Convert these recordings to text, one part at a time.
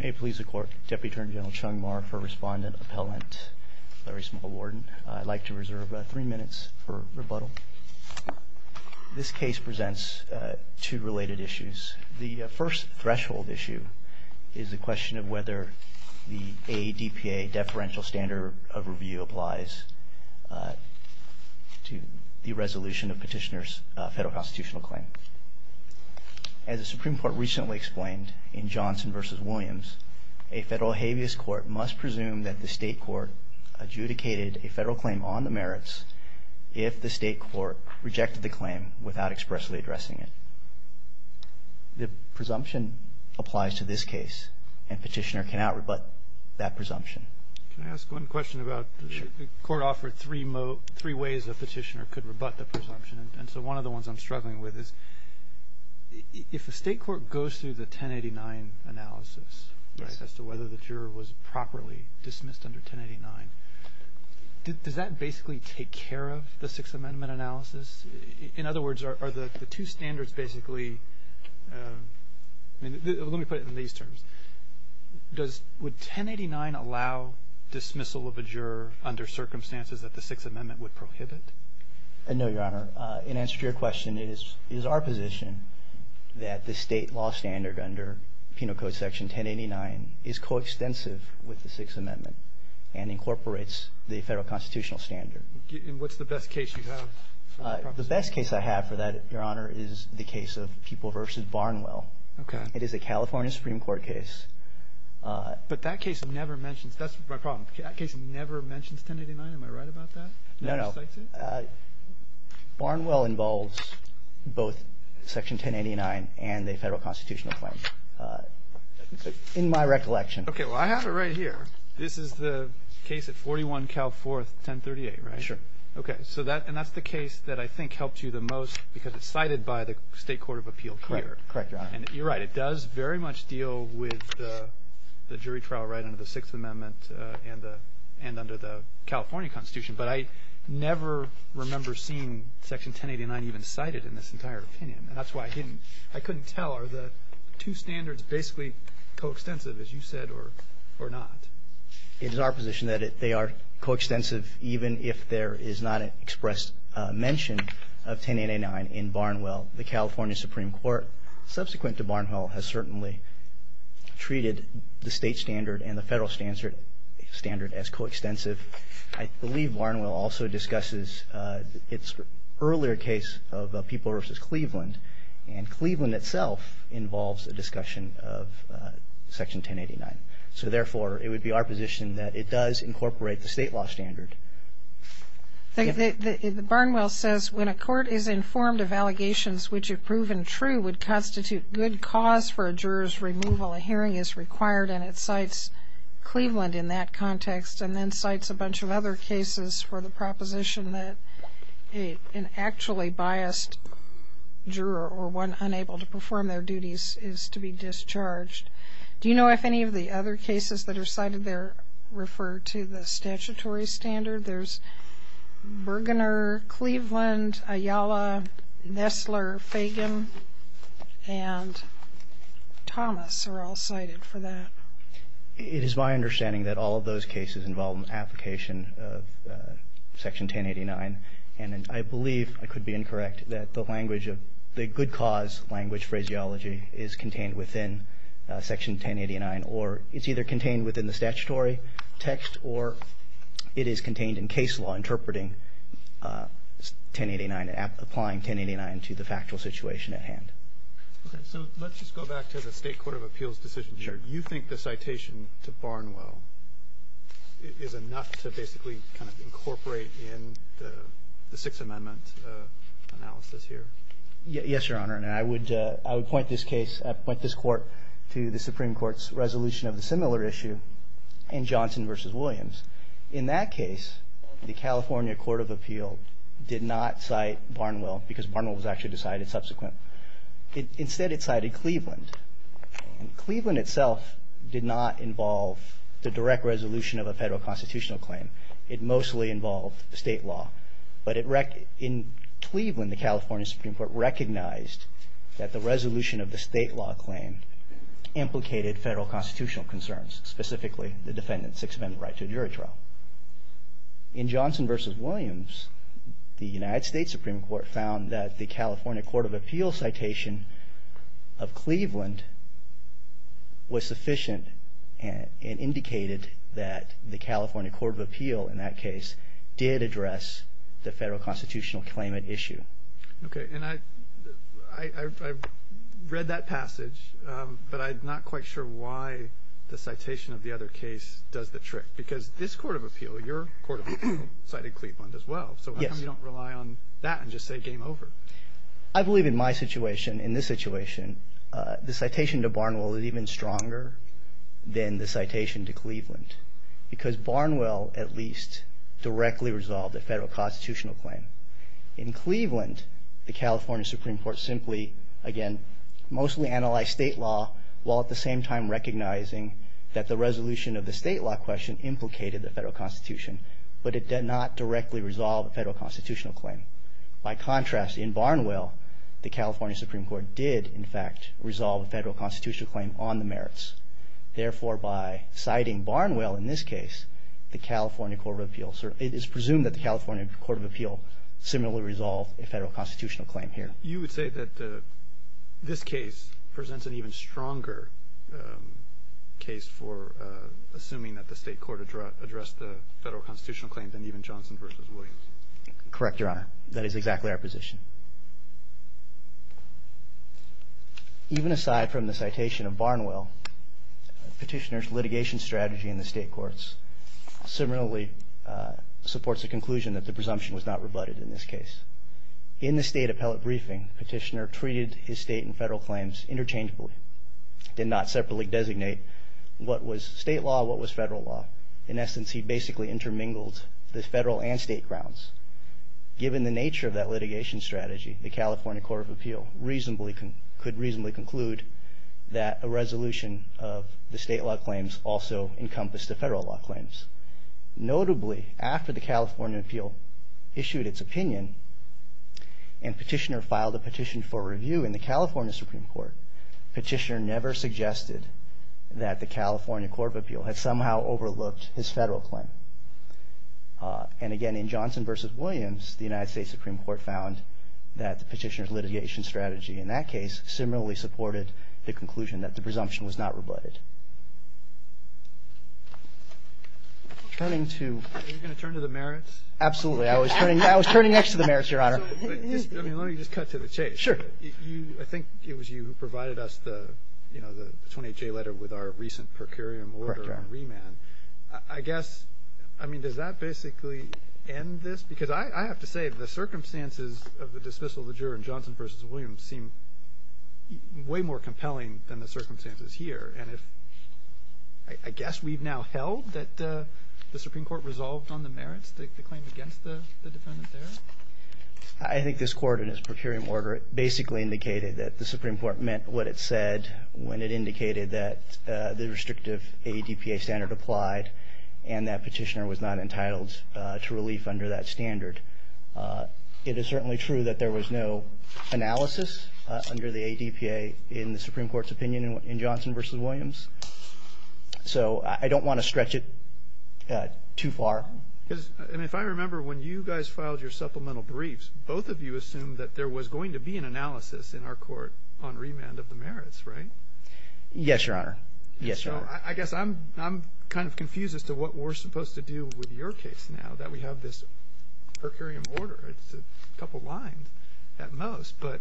May it please the court, Deputy Attorney General Chung Mar for Respondent Appellant Larry Small, Warden. I'd like to reserve three minutes for rebuttal. This case presents two related issues. The first threshold issue is the question of whether the ADPA, Deferential Standard of Review, applies to the resolution of petitioner's federal constitutional claim. As the Supreme Court recently explained in Johnson v. Williams, a federal habeas court must presume that the state court adjudicated a federal claim on the merits if the state court rejected the claim without expressly addressing it. The presumption applies to this case and petitioner cannot rebut that presumption. Can I ask one question about the court offered three ways a petitioner could rebut the presumption? And so one of the ones I'm struggling with is if the state court goes through the 1089 analysis as to whether the juror was properly dismissed under 1089, does that basically take care of the Sixth Amendment analysis? In other words, are the two standards basically, let me put it in these terms, would 1089 allow dismissal of a juror under circumstances that the Sixth Amendment would prohibit? No, Your Honor. In answer to your question, it is our position that the state law standard under Penal Code Section 1089 is coextensive with the Sixth Amendment and incorporates the federal constitutional standard. And what's the best case you have? The best case I have for that, Your Honor, is the case of People v. Barnwell. It is a California Supreme Court case. But that case never mentions – that's my problem. That case never mentions 1089. Am I right about that? No, no. Barnwell involves both Section 1089 and the federal constitutional claim, in my recollection. Okay. Well, I have it right here. This is the case at 41 Cal 4, 1038, right? Sure. Okay. So that – and that's the case that I think helped you the most because it's cited by the state court of appeal here. Correct. Correct, Your Honor. And you're right. It does very much deal with the jury trial right under the Sixth Amendment and under the California Constitution. But I never remember seeing Section 1089 even cited in this entire opinion. And that's why I didn't – I couldn't tell. Are the two standards basically coextensive, as you said, or not? It is our position that they are coextensive even if there is not an expressed mention of 1089 in Barnwell. The California Supreme Court, subsequent to Barnwell, has certainly treated the state standard and the federal standard as coextensive. I believe Barnwell also discusses its earlier case of People v. Cleveland. And Cleveland itself involves a discussion of Section 1089. So, therefore, it would be our position that it does incorporate the state law standard. Barnwell says, when a court is informed of allegations which have proven true would constitute good cause for a juror's removal, a hearing is required, and it cites Cleveland in that context, and then cites a bunch of other cases for the proposition that an actually biased juror or one unable to perform their duties is to be discharged. Do you know if any of the other cases that are cited there refer to the statutory standard? There's Bergener, Cleveland, Ayala, Nessler, Fagin, and Thomas are all cited for that. It is my understanding that all of those cases involve an application of Section 1089. And I believe, I could be incorrect, that the language of the good cause language phraseology is contained within Section 1089, or it's either contained within the statutory text or it is contained in case law interpreting 1089 and applying 1089 to the factual situation at hand. Okay. So let's just go back to the State Court of Appeals decision here. Sure. Do you think the citation to Barnwell is enough to basically kind of incorporate in the Sixth Amendment analysis here? Yes, Your Honor. And I would point this case, point this court to the Supreme Court's resolution of a similar issue in Johnson v. Williams. In that case, the California Court of Appeal did not cite Barnwell because Barnwell was actually decided subsequent. Instead, it cited Cleveland. And Cleveland itself did not involve the direct resolution of a federal constitutional claim. It mostly involved state law. But in Cleveland, the California Supreme Court recognized that the resolution of the state law claim implicated federal constitutional concerns, specifically the defendant's Sixth Amendment right to a jury trial. In Johnson v. Williams, the United States Supreme Court found that the California Court of Appeal citation of Cleveland was sufficient and indicated that the California Court of Appeal, in that case, did address the federal constitutional claimant issue. Okay. And I've read that passage, but I'm not quite sure why the citation of the other case does the trick. Because this Court of Appeal, your Court of Appeal, cited Cleveland as well. Yes. So how come you don't rely on that and just say game over? I believe in my situation, in this situation, the citation to Barnwell is even stronger than the citation to Cleveland. Because Barnwell at least directly resolved a federal constitutional claim. In Cleveland, the California Supreme Court simply, again, mostly analyzed state law, while at the same time recognizing that the resolution of the state law question implicated the federal constitution. But it did not directly resolve a federal constitutional claim. By contrast, in Barnwell, the California Supreme Court did, in fact, resolve a federal constitutional claim on the merits. Therefore, by citing Barnwell in this case, the California Court of Appeal, it is presumed that the California Court of Appeal similarly resolved a federal constitutional claim here. You would say that this case presents an even stronger case for assuming that the state court addressed the federal constitutional claim than even Johnson v. Williams? Correct, Your Honor. That is exactly our position. Even aside from the citation of Barnwell, Petitioner's litigation strategy in the state courts similarly supports the conclusion that the presumption was not rebutted in this case. In the state appellate briefing, Petitioner treated his state and federal claims interchangeably. He did not separately designate what was state law and what was federal law. In essence, he basically intermingled the federal and state grounds. Given the nature of that litigation strategy, the California Court of Appeal could reasonably conclude that a resolution of the state law claims also encompassed the federal law claims. Notably, after the California Court of Appeal issued its opinion and Petitioner filed a petition for review in the California Supreme Court, Petitioner never suggested that the California Court of Appeal had somehow overlooked his federal claim. And again, in Johnson v. Williams, the United States Supreme Court found that Petitioner's litigation strategy in that case similarly supported the conclusion that the presumption was not rebutted. Are you going to turn to the merits? Absolutely. I was turning next to the merits, Your Honor. Let me just cut to the chase. Sure. I think it was you who provided us the, you know, the 28-J letter with our recent per curiam order and remand. Correct, Your Honor. I guess, I mean, does that basically end this? Because I have to say the circumstances of the dismissal of the juror in Johnson v. Williams seem way more compelling than the circumstances here. And I guess we've now held that the Supreme Court resolved on the merits, the claim against the defendant there? I think this court in its per curiam order basically indicated that the Supreme Court meant what it said when it indicated that the restrictive ADPA standard applied and that Petitioner was not entitled to relief under that standard. It is certainly true that there was no analysis under the ADPA in the Supreme Court's opinion in Johnson v. Williams. So I don't want to stretch it too far. And if I remember, when you guys filed your supplemental briefs, both of you assumed that there was going to be an analysis in our court on remand of the merits, right? Yes, Your Honor. Yes, Your Honor. I guess I'm kind of confused as to what we're supposed to do with your case now that we have this per curiam order. It's a couple lines at most. But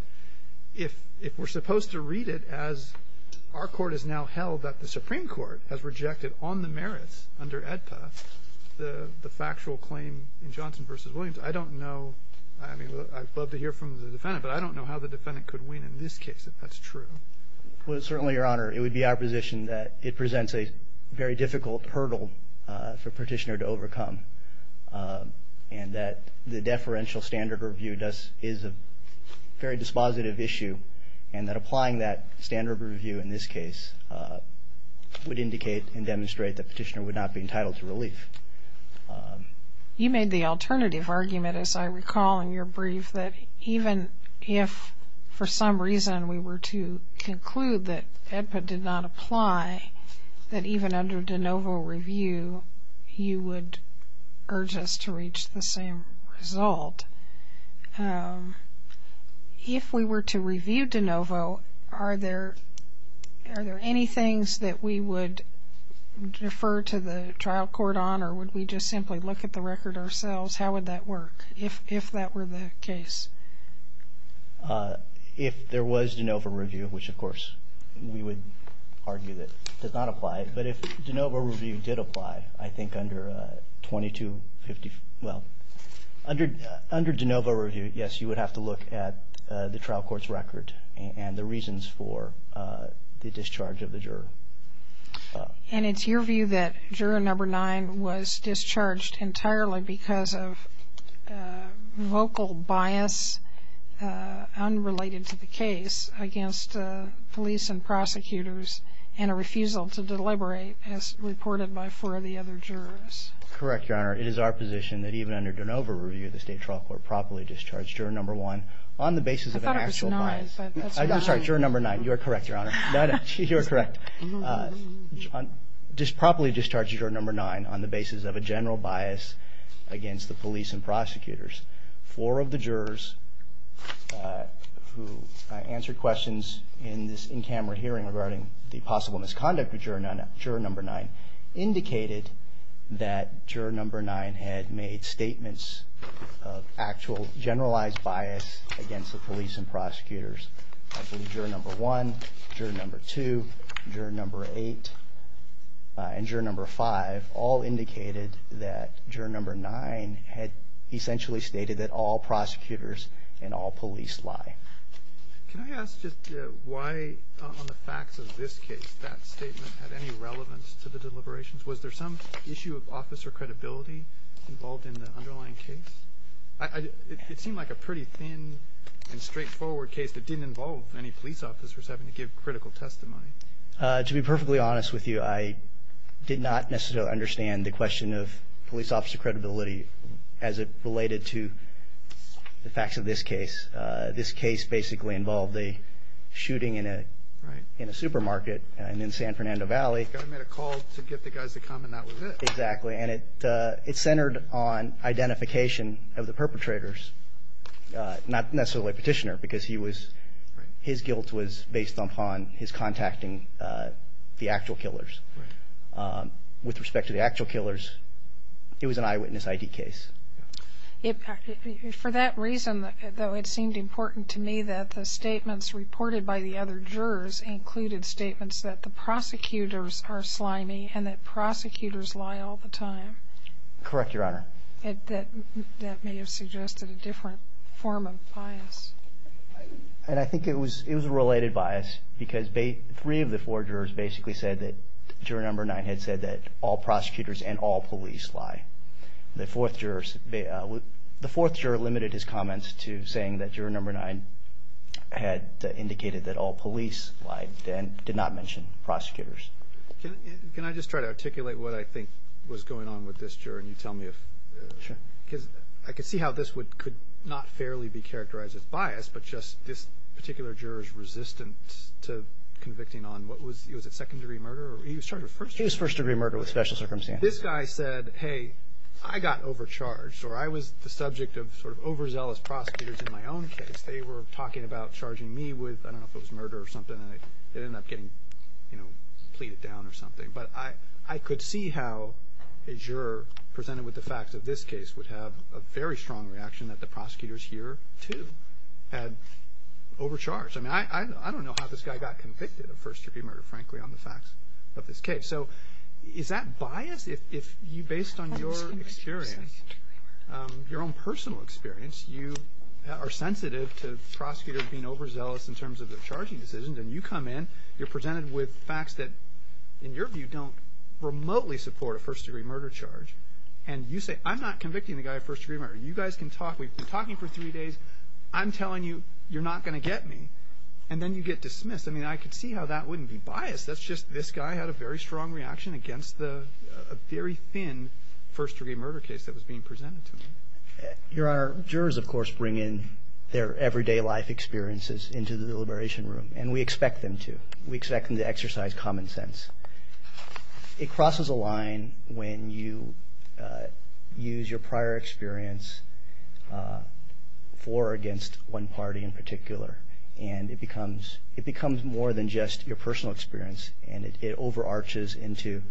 if we're supposed to read it as our court has now held that the Supreme Court has rejected on the merits under ADPA the factual claim in Johnson v. Williams, I don't know. I mean, I'd love to hear from the defendant, but I don't know how the defendant could win in this case if that's true. Well, certainly, Your Honor, it would be our position that it presents a very difficult hurdle for Petitioner to overcome and that the deferential standard review is a very dispositive issue and that applying that standard review in this case would indicate and demonstrate that Petitioner would not be entitled to relief. You made the alternative argument, as I recall in your brief, that even if for some reason we were to conclude that ADPA did not apply, that even under de novo review you would urge us to reach the same result. If we were to review de novo, are there any things that we would defer to the trial court on or would we just simply look at the record ourselves? How would that work if that were the case? If there was de novo review, which of course we would argue that does not apply, but if de novo review did apply, I think under de novo review, yes, you would have to look at the trial court's record and the reasons for the discharge of the juror. And it's your view that juror number nine was discharged entirely because of vocal bias unrelated to the case against police and prosecutors and a refusal to deliberate as reported by four of the other jurors. Correct, Your Honor. It is our position that even under de novo review, the state trial court properly discharged juror number one on the basis of an actual bias. I thought it was nine. I'm sorry, juror number nine. You are correct, Your Honor. You are correct. Properly discharged juror number nine on the basis of a general bias against the police and prosecutors. Four of the jurors who answered questions in this in-camera hearing regarding the possible misconduct of juror number nine indicated that juror number nine had made statements of actual generalized bias against the police and prosecutors. I believe juror number one, juror number two, juror number eight, and juror number five all indicated that all prosecutors and all police lie. Can I ask just why on the facts of this case that statement had any relevance to the deliberations? Was there some issue of officer credibility involved in the underlying case? It seemed like a pretty thin and straightforward case that didn't involve any police officers having to give critical testimony. To be perfectly honest with you, I did not necessarily understand the question of police officer credibility as it related to the facts of this case. This case basically involved a shooting in a supermarket in San Fernando Valley. The guy made a call to get the guys to come, and that was it. Exactly. And it centered on identification of the perpetrators, not necessarily Petitioner, because his guilt was based upon his contacting the actual killers. With respect to the actual killers, it was an eyewitness I.D. case. For that reason, though, it seemed important to me that the statements reported by the other jurors included statements that the prosecutors are slimy and that prosecutors lie all the time. Correct, Your Honor. That may have suggested a different form of bias. I think it was a related bias because three of the four jurors basically said that juror number nine had said that all prosecutors and all police lie. The fourth juror limited his comments to saying that juror number nine had indicated that all police lie and did not mention prosecutors. Can I just try to articulate what I think was going on with this juror and you tell me if? Sure. Because I could see how this could not fairly be characterized as bias, but just this particular juror is resistant to convicting on what was it, second-degree murder? He was charged with first-degree murder with special circumstances. This guy said, hey, I got overcharged, or I was the subject of sort of overzealous prosecutors in my own case. They were talking about charging me with, I don't know if it was murder or something, and it ended up getting pleaded down or something. But I could see how a juror presented with the facts of this case would have a very strong reaction that the prosecutors here, too, had overcharged. I mean, I don't know how this guy got convicted of first-degree murder, frankly, on the facts of this case. So is that bias? If based on your experience, your own personal experience, you are sensitive to prosecutors being overzealous in terms of their charging decisions, and you come in, you're presented with facts that, in your view, don't remotely support a first-degree murder charge, and you say, I'm not convicting the guy of first-degree murder. You guys can talk. We've been talking for three days. I'm telling you you're not going to get me. And then you get dismissed. I mean, I could see how that wouldn't be bias. That's just this guy had a very strong reaction against a very thin first-degree murder case that was being presented to him. Your Honor, jurors, of course, bring in their everyday life experiences into the deliberation room, and we expect them to. We expect them to exercise common sense. It crosses a line when you use your prior experience for or against one party in particular, and it becomes more than just your personal experience, and it overarches into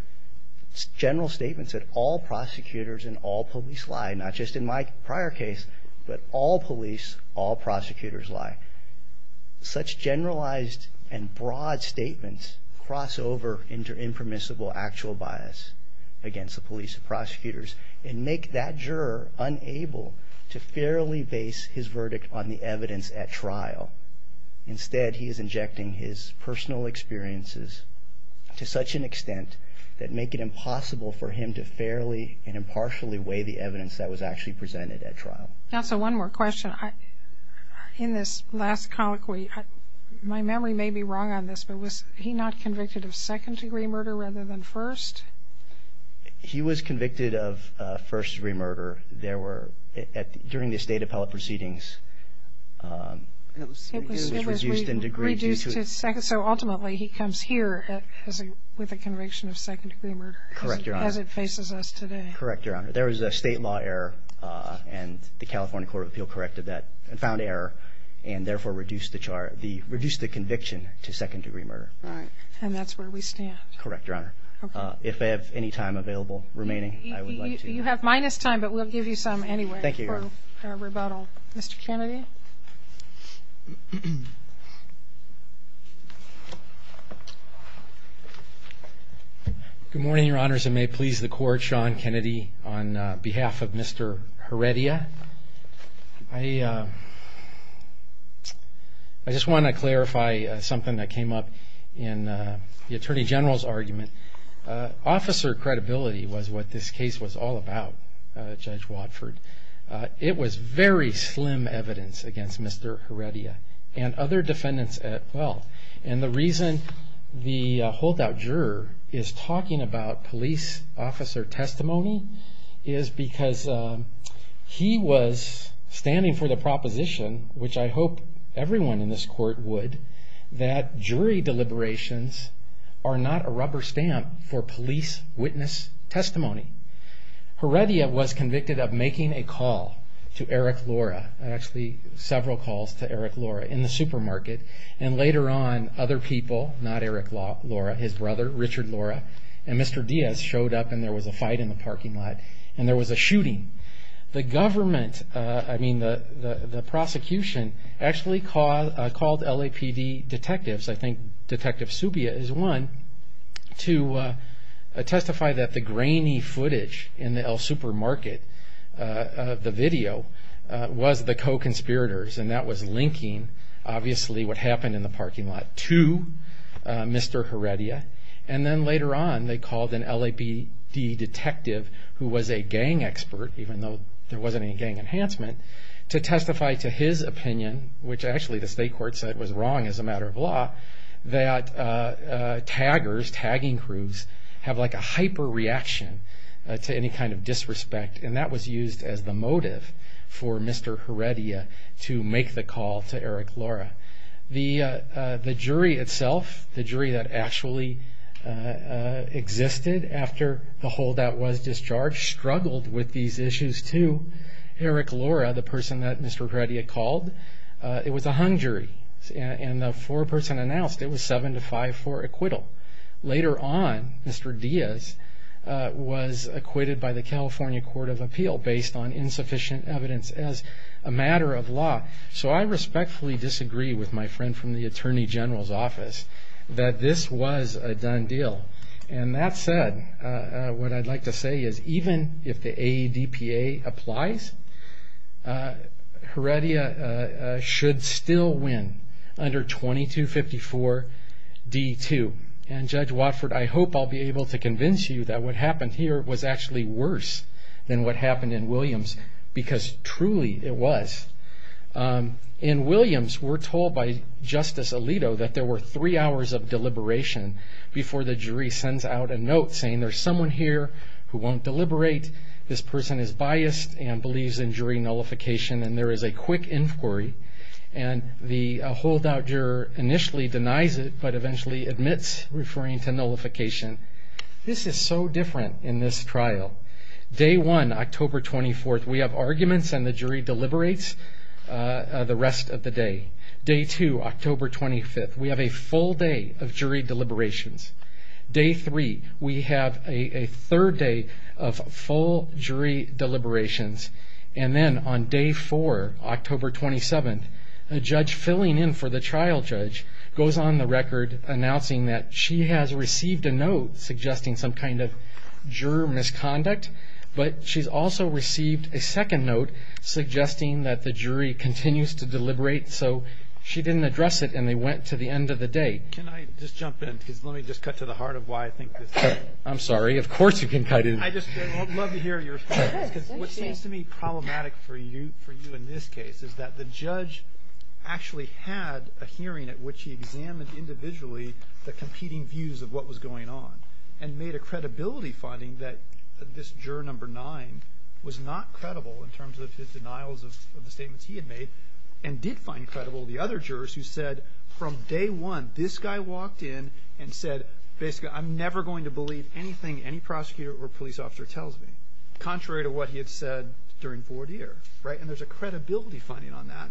general statements that all prosecutors and all police lie, not just in my prior case, but all police, all prosecutors lie. Such generalized and broad statements cross over into impermissible actual bias against the police and prosecutors and make that juror unable to fairly base his verdict on the evidence at trial. Instead, he is injecting his personal experiences to such an extent that make it impossible for him to fairly and impartially weigh the evidence that was actually presented at trial. Counsel, one more question. In this last colloquy, my memory may be wrong on this, but was he not convicted of second-degree murder rather than first? He was convicted of first-degree murder. During the state appellate proceedings, it was reduced in degree. So ultimately, he comes here with a conviction of second-degree murder as it faces us today. Correct, Your Honor. There was a state law error, and the California Court of Appeal corrected that and found error and therefore reduced the conviction to second-degree murder. And that's where we stand. Correct, Your Honor. If I have any time available remaining, I would like to. You have minus time, but we'll give you some anyway for rebuttal. Thank you, Your Honor. Mr. Kennedy? Good morning, Your Honors, and may it please the Court, Sean Kennedy on behalf of Mr. Heredia. I just want to clarify something that came up in the Attorney General's argument. Officer credibility was what this case was all about, Judge Watford. It was very slim evidence against Mr. Heredia and other defendants as well. And the reason the holdout juror is talking about police officer testimony is because he was standing for the proposition, which I hope everyone in this Court would, that jury deliberations are not a rubber stamp for police witness testimony. Heredia was convicted of making a call to Eric Lora, actually several calls to Eric Lora in the supermarket, and later on other people, not Eric Lora, his brother Richard Lora and Mr. Diaz showed up and there was a fight in the parking lot and there was a shooting. The government, I mean the prosecution, actually called LAPD detectives, I think Detective Subia is one, to testify that the grainy footage in the El Supermarket, the video, was the co-conspirators and that was linking, obviously, what happened in the parking lot to Mr. Heredia. And then later on they called an LAPD detective who was a gang expert, even though there wasn't any gang enhancement, to testify to his opinion, which actually the state court said was wrong as a matter of law, that taggers, tagging crews, have like a hyper reaction to any kind of disrespect and that was used as the motive for Mr. Heredia to make the call to Eric Lora. The jury itself, the jury that actually existed after the holdout was discharged, struggled with these issues too. Eric Lora, the person that Mr. Heredia called, it was a hung jury and the foreperson announced it was 7-5 for acquittal. Later on, Mr. Diaz was acquitted by the California Court of Appeal based on insufficient evidence as a matter of law. So I respectfully disagree with my friend from the Attorney General's office that this was a done deal. And that said, what I'd like to say is even if the AEDPA applies, Heredia should still win under 2254 D2. And Judge Watford, I hope I'll be able to convince you that what happened here was actually worse than what happened in Williams because truly it was. In Williams, we're told by Justice Alito that there were three hours of deliberation before the jury sends out a note saying there's someone here who won't deliberate, this person is biased and believes in jury nullification and there is a quick inquiry and the holdout juror initially denies it but eventually admits referring to nullification. This is so different in this trial. Day 1, October 24th, we have arguments and the jury deliberates the rest of the day. Day 2, October 25th, we have a full day of jury deliberations. Day 3, we have a third day of full jury deliberations. And then on Day 4, October 27th, a judge filling in for the trial judge goes on the record announcing that she has received a note suggesting some kind of juror misconduct but she's also received a second note suggesting that the jury continues to deliberate so she didn't address it and they went to the end of the day. Can I just jump in because let me just cut to the heart of why I think this is important. I'm sorry, of course you can cut in. I'd love to hear your response because what seems to me problematic for you in this case is that the judge actually had a hearing at which he examined individually the competing views of what was going on and made a credibility finding that this juror number 9 was not credible in terms of his denials of the statements he had made and did find credible the other jurors who said from Day 1 this guy walked in and said basically I'm never going to believe anything any prosecutor or police officer tells me contrary to what he had said during 4-D-er and there's a credibility finding on that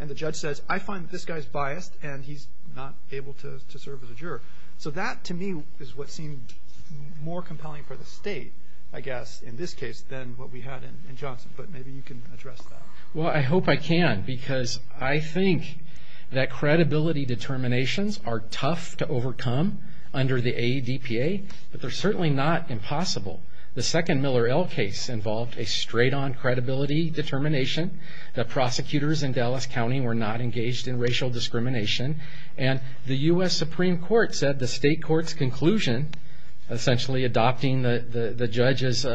and the judge says I find that this guy is biased and he's not able to serve as a juror. So that to me is what seemed more compelling for the state I guess in this case than what we had in Johnson but maybe you can address that. Well, I hope I can because I think that credibility determinations are tough to overcome under the AEDPA but they're certainly not impossible. The second Miller-El case involved a straight-on credibility determination. The prosecutors in Dallas County were not engaged in racial discrimination and the U.S. Supreme Court said the state court's conclusion, essentially adopting the judge's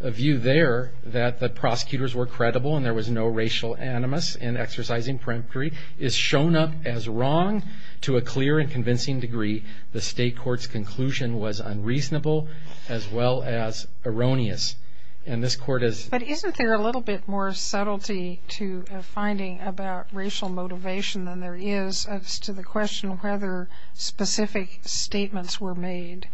view there that the prosecutors were credible and there was no racial animus in exercising peremptory, is shown up as wrong to a clear and convincing degree. The state court's conclusion was unreasonable as well as erroneous and this court has But isn't there a little bit more subtlety to a finding about racial motivation than there is as to the question of whether specific statements were made.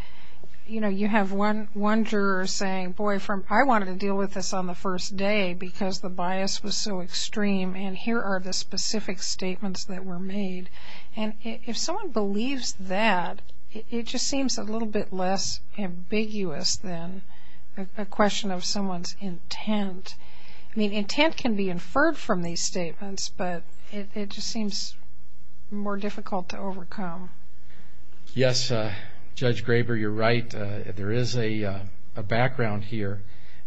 You know, you have one juror saying, boy, I wanted to deal with this on the first day because the bias was so extreme and here are the specific statements that were made and if someone believes that, it just seems a little bit less ambiguous than a question of someone's intent. I mean, intent can be inferred from these statements but it just seems more difficult to overcome. Yes, Judge Graber, you're right. There is a background here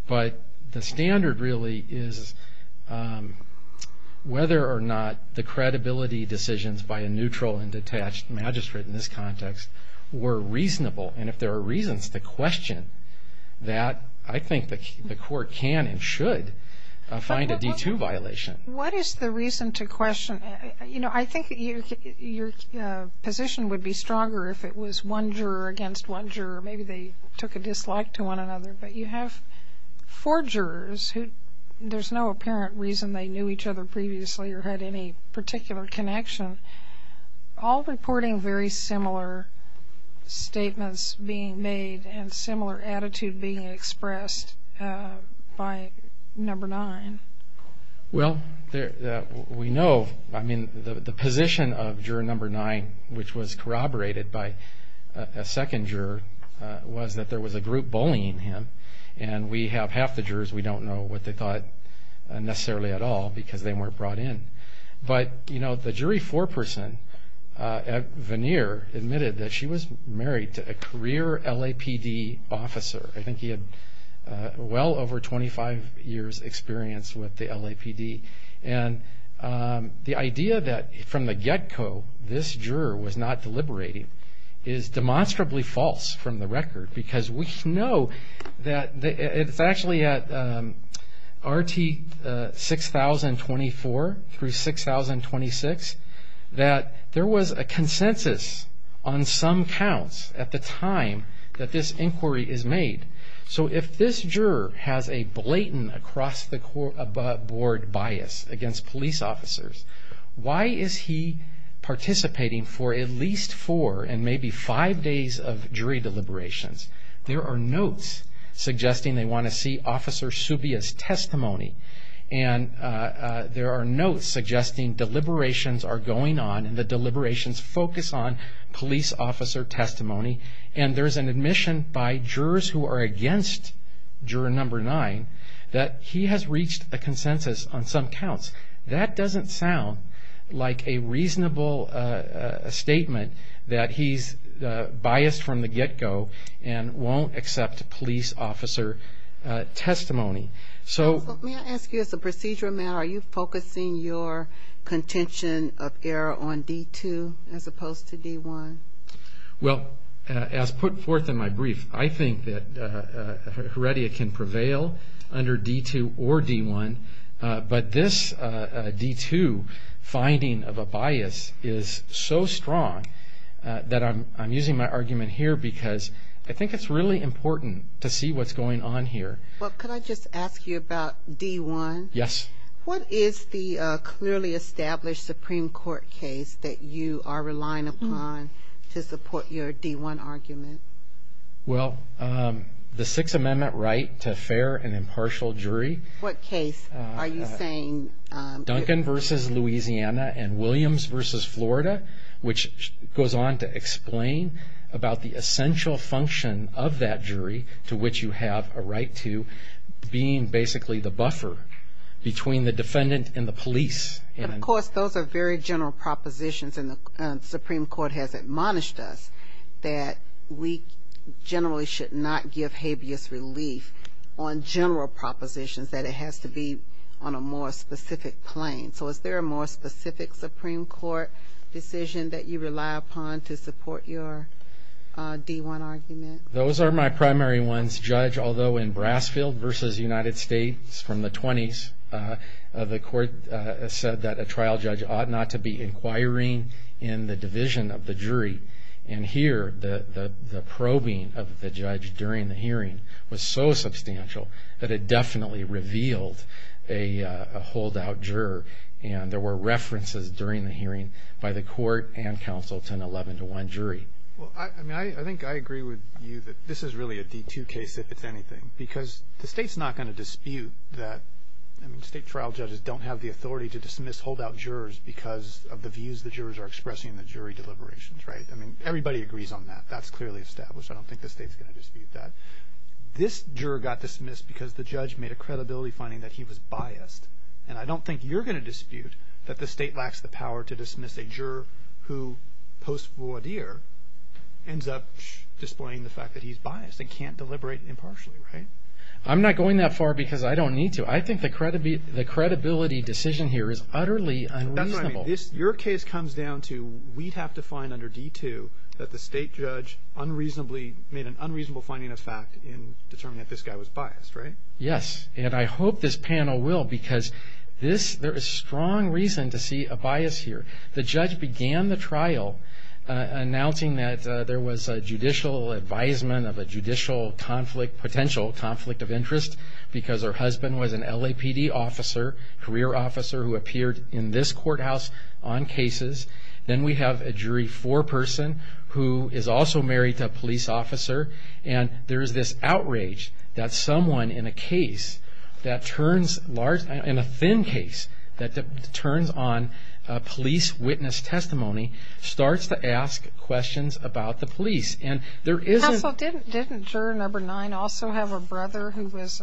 but the standard really is whether or not the credibility decisions by a neutral and detached magistrate in this context were reasonable and if there are reasons to question that, I think the court can and should find a D2 violation. What is the reason to question? You know, I think your position would be stronger if it was one juror against one juror. Maybe they took a dislike to one another but you have four jurors who there's no apparent reason they knew each other previously or had any particular connection. All reporting very similar statements being made and similar attitude being expressed by number nine. Well, we know, I mean, the position of juror number nine, which was corroborated by a second juror, was that there was a group bullying him and we have half the jurors we don't know what they thought necessarily at all because they weren't brought in. But, you know, the jury foreperson, Vanier, admitted that she was married to a career LAPD officer. I think he had well over 25 years experience with the LAPD and the idea that from the get-go this juror was not deliberating is demonstrably false from the record because we know that it's actually at RT 6024 through 6026 that there was a consensus on some counts at the time that this inquiry is made. So if this juror has a blatant across-the-board bias against police officers, why is he participating for at least four and maybe five days of jury deliberations? There are notes suggesting they want to see Officer Subia's testimony and there are notes suggesting deliberations are going on and the deliberations focus on police officer testimony and there's an admission by jurors who are against juror number nine that he has reached a consensus on some counts. That doesn't sound like a reasonable statement that he's biased from the get-go and won't accept police officer testimony. So may I ask you as a procedural matter, are you focusing your contention of error on D2 as opposed to D1? Well, as put forth in my brief, I think that Heredia can prevail under D2 or D1, but this D2 finding of a bias is so strong that I'm using my argument here because I think it's really important to see what's going on here. Well, could I just ask you about D1? Yes. What is the clearly established Supreme Court case that you are relying upon to support your D1 argument? Well, the Sixth Amendment right to fair and impartial jury. What case are you saying? Duncan v. Louisiana and Williams v. Florida, which goes on to explain about the essential function of that jury to which you have a right to being basically the buffer between the defendant and the police. Of course, those are very general propositions and the Supreme Court has admonished us that we generally should not give habeas relief on general propositions, that it has to be on a more specific plane. So is there a more specific Supreme Court decision that you rely upon to support your D1 argument? Those are my primary ones. Judge, although in Brasfield v. United States from the 20s, the court said that a trial judge ought not to be inquiring in the division of the jury. And here, the probing of the judge during the hearing was so substantial that it definitely revealed a holdout juror. And there were references during the hearing by the court and counsel to an 11-1 jury. I think I agree with you that this is really a D2 case, if it's anything, because the state's not going to dispute that state trial judges don't have the authority to dismiss holdout jurors because of the views the jurors are expressing in the jury deliberations, right? I mean, everybody agrees on that. That's clearly established. I don't think the state's going to dispute that. This juror got dismissed because the judge made a credibility finding that he was biased. And I don't think you're going to dispute that the state lacks the power to dismiss a juror who, post voir dire, ends up displaying the fact that he's biased and can't deliberate impartially, right? I'm not going that far because I don't need to. I think the credibility decision here is utterly unreasonable. That's what I mean. Your case comes down to we'd have to find under D2 that the state judge made an unreasonable finding of fact in determining that this guy was biased, right? Yes, and I hope this panel will because there is strong reason to see a bias here. The judge began the trial announcing that there was a judicial advisement of a judicial conflict, potential conflict of interest, because her husband was an LAPD officer, career officer who appeared in this courthouse on cases. Then we have a jury foreperson who is also married to a police officer, and there is this outrage that someone in a case that turns large, in a thin case, that turns on a police witness testimony starts to ask questions about the police. Hassell, didn't juror number nine also have a brother who was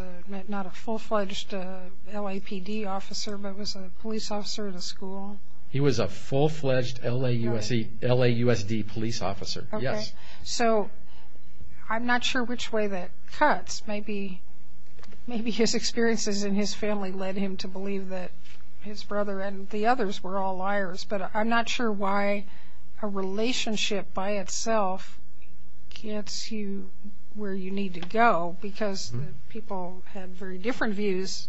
not a full-fledged LAPD officer but was a police officer at a school? He was a full-fledged LAUSD police officer, yes. So I'm not sure which way that cuts. Maybe his experiences in his family led him to believe that his brother and the others were all liars, but I'm not sure why a relationship by itself gets you where you need to go because people had very different views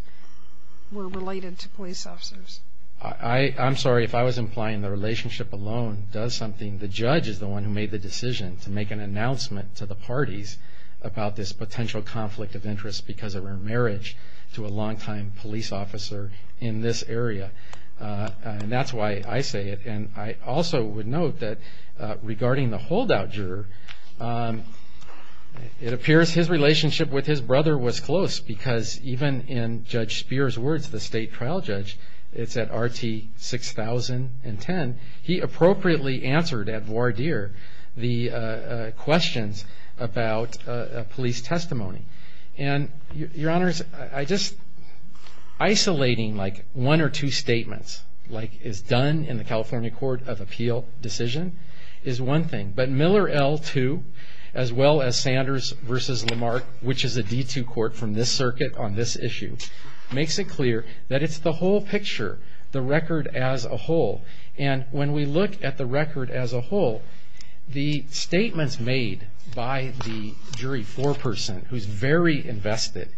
were related to police officers. I'm sorry, if I was implying the relationship alone does something, the judge is the one who made the decision to make an announcement to the parties about this potential conflict of interest because of her marriage to a longtime police officer in this area. And that's why I say it. And I also would note that regarding the holdout juror, it appears his relationship with his brother was close because even in Judge Speer's words, the state trial judge, it's at RT 6010, he appropriately answered at voir dire the questions about police testimony. And, Your Honors, I just, isolating like one or two statements, like is done in the California Court of Appeal decision is one thing. But Miller L2, as well as Sanders versus Lamarck, which is a D2 court from this circuit on this issue, makes it clear that it's the whole picture, the record as a whole. And when we look at the record as a whole, the statements made by the jury foreperson, who's very invested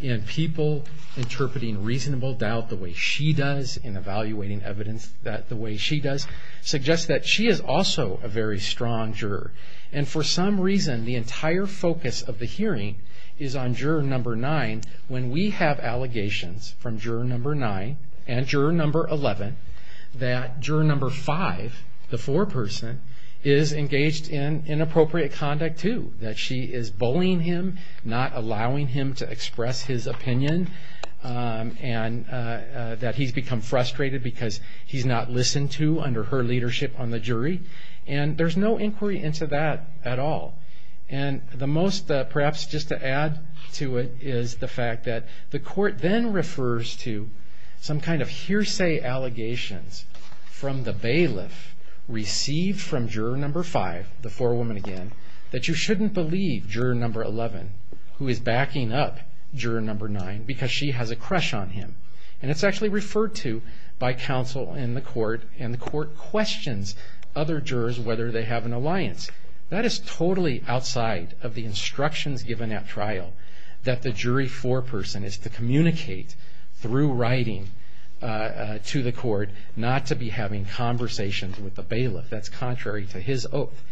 in people interpreting reasonable doubt the way she does in evaluating evidence the way she does, suggests that she is also a very strong juror. And for some reason, the entire focus of the hearing is on juror number nine. When we have allegations from juror number nine and juror number 11, that juror number five, the foreperson, is engaged in inappropriate conduct too, that she is bullying him, not allowing him to express his opinion, and that he's become frustrated because he's not listened to under her leadership on the jury. And there's no inquiry into that at all. And the most, perhaps just to add to it, is the fact that the court then refers to some kind of hearsay allegations from the bailiff received from juror number five, the forewoman again, that you shouldn't believe juror number 11, who is backing up juror number nine because she has a crush on him. And it's actually referred to by counsel in the court, and the court questions other jurors whether they have an alliance. That is totally outside of the instructions given at trial, that the jury foreperson is to communicate through writing to the court not to be having conversations with the bailiff. That's contrary to his oath.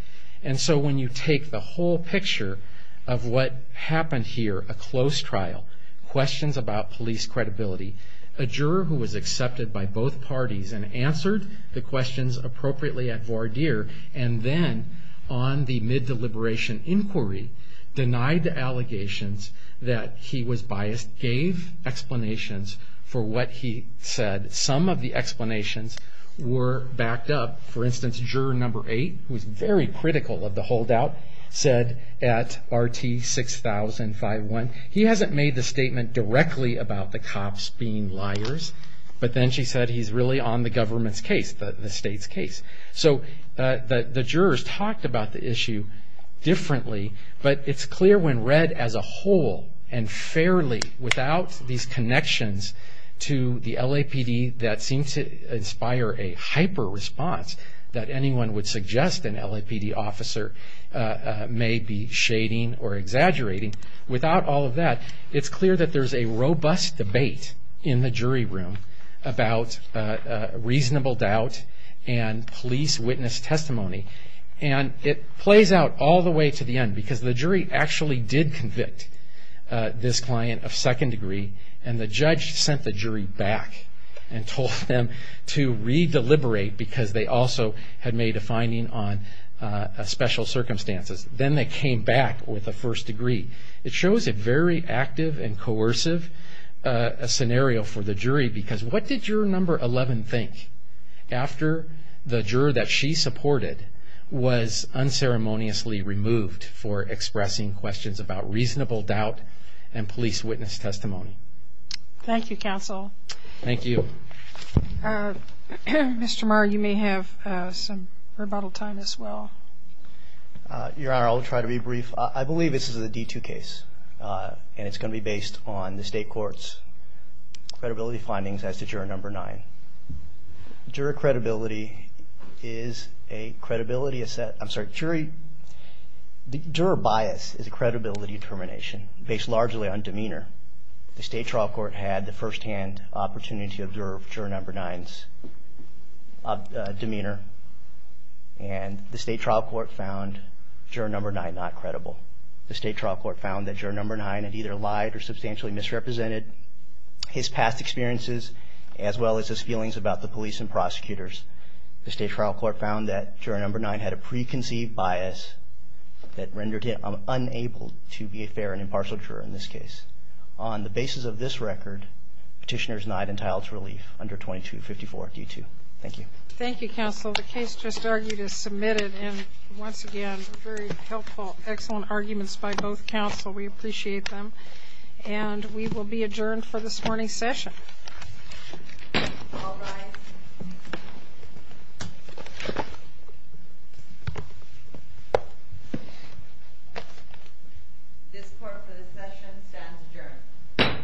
And so when you take the whole picture of what happened here, a close trial, questions about police credibility, a juror who was accepted by both parties and answered the questions appropriately at voir dire, and then on the mid-deliberation inquiry, denied the allegations that he was biased, gave explanations for what he said. Some of the explanations were backed up. For instance, juror number eight, who was very critical of the holdout, said at RT-60051, he hasn't made the statement directly about the cops being liars, but then she said he's really on the government's case, the state's case. So the jurors talked about the issue differently, but it's clear when read as a whole and fairly, without these connections to the LAPD that seem to inspire a hyper-response that anyone would suggest an LAPD officer may be shading or exaggerating, without all of that, it's clear that there's a robust debate in the jury room about reasonable doubt and police witness testimony. And it plays out all the way to the end because the jury actually did convict this client of second degree, and the judge sent the jury back and told them to re-deliberate because they also had made a finding on special circumstances. Then they came back with a first degree. It shows a very active and coercive scenario for the jury because what did juror number 11 think? After the juror that she supported was unceremoniously removed for expressing questions about reasonable doubt and police witness testimony. Thank you, counsel. Thank you. Mr. Marr, you may have some rebuttal time as well. Your Honor, I'll try to be brief. I believe this is a D2 case, and it's going to be based on the state court's credibility findings as to juror number 9. Juror bias is a credibility determination based largely on demeanor. The state trial court had the firsthand opportunity to observe juror number 9's demeanor, and the state trial court found juror number 9 not credible. The state trial court found that juror number 9 had either lied or substantially misrepresented his past experiences as well as his feelings about the police and prosecutors. The state trial court found that juror number 9 had a preconceived bias that rendered him unable to be a fair and impartial juror in this case. On the basis of this record, petitioner is not entitled to relief under 2254 D2. Thank you. Thank you, counsel. The case just argued is submitted, and once again, very helpful, excellent arguments by both counsel. We appreciate them. And we will be adjourned for this morning's session. All rise. This court for this session stands adjourned.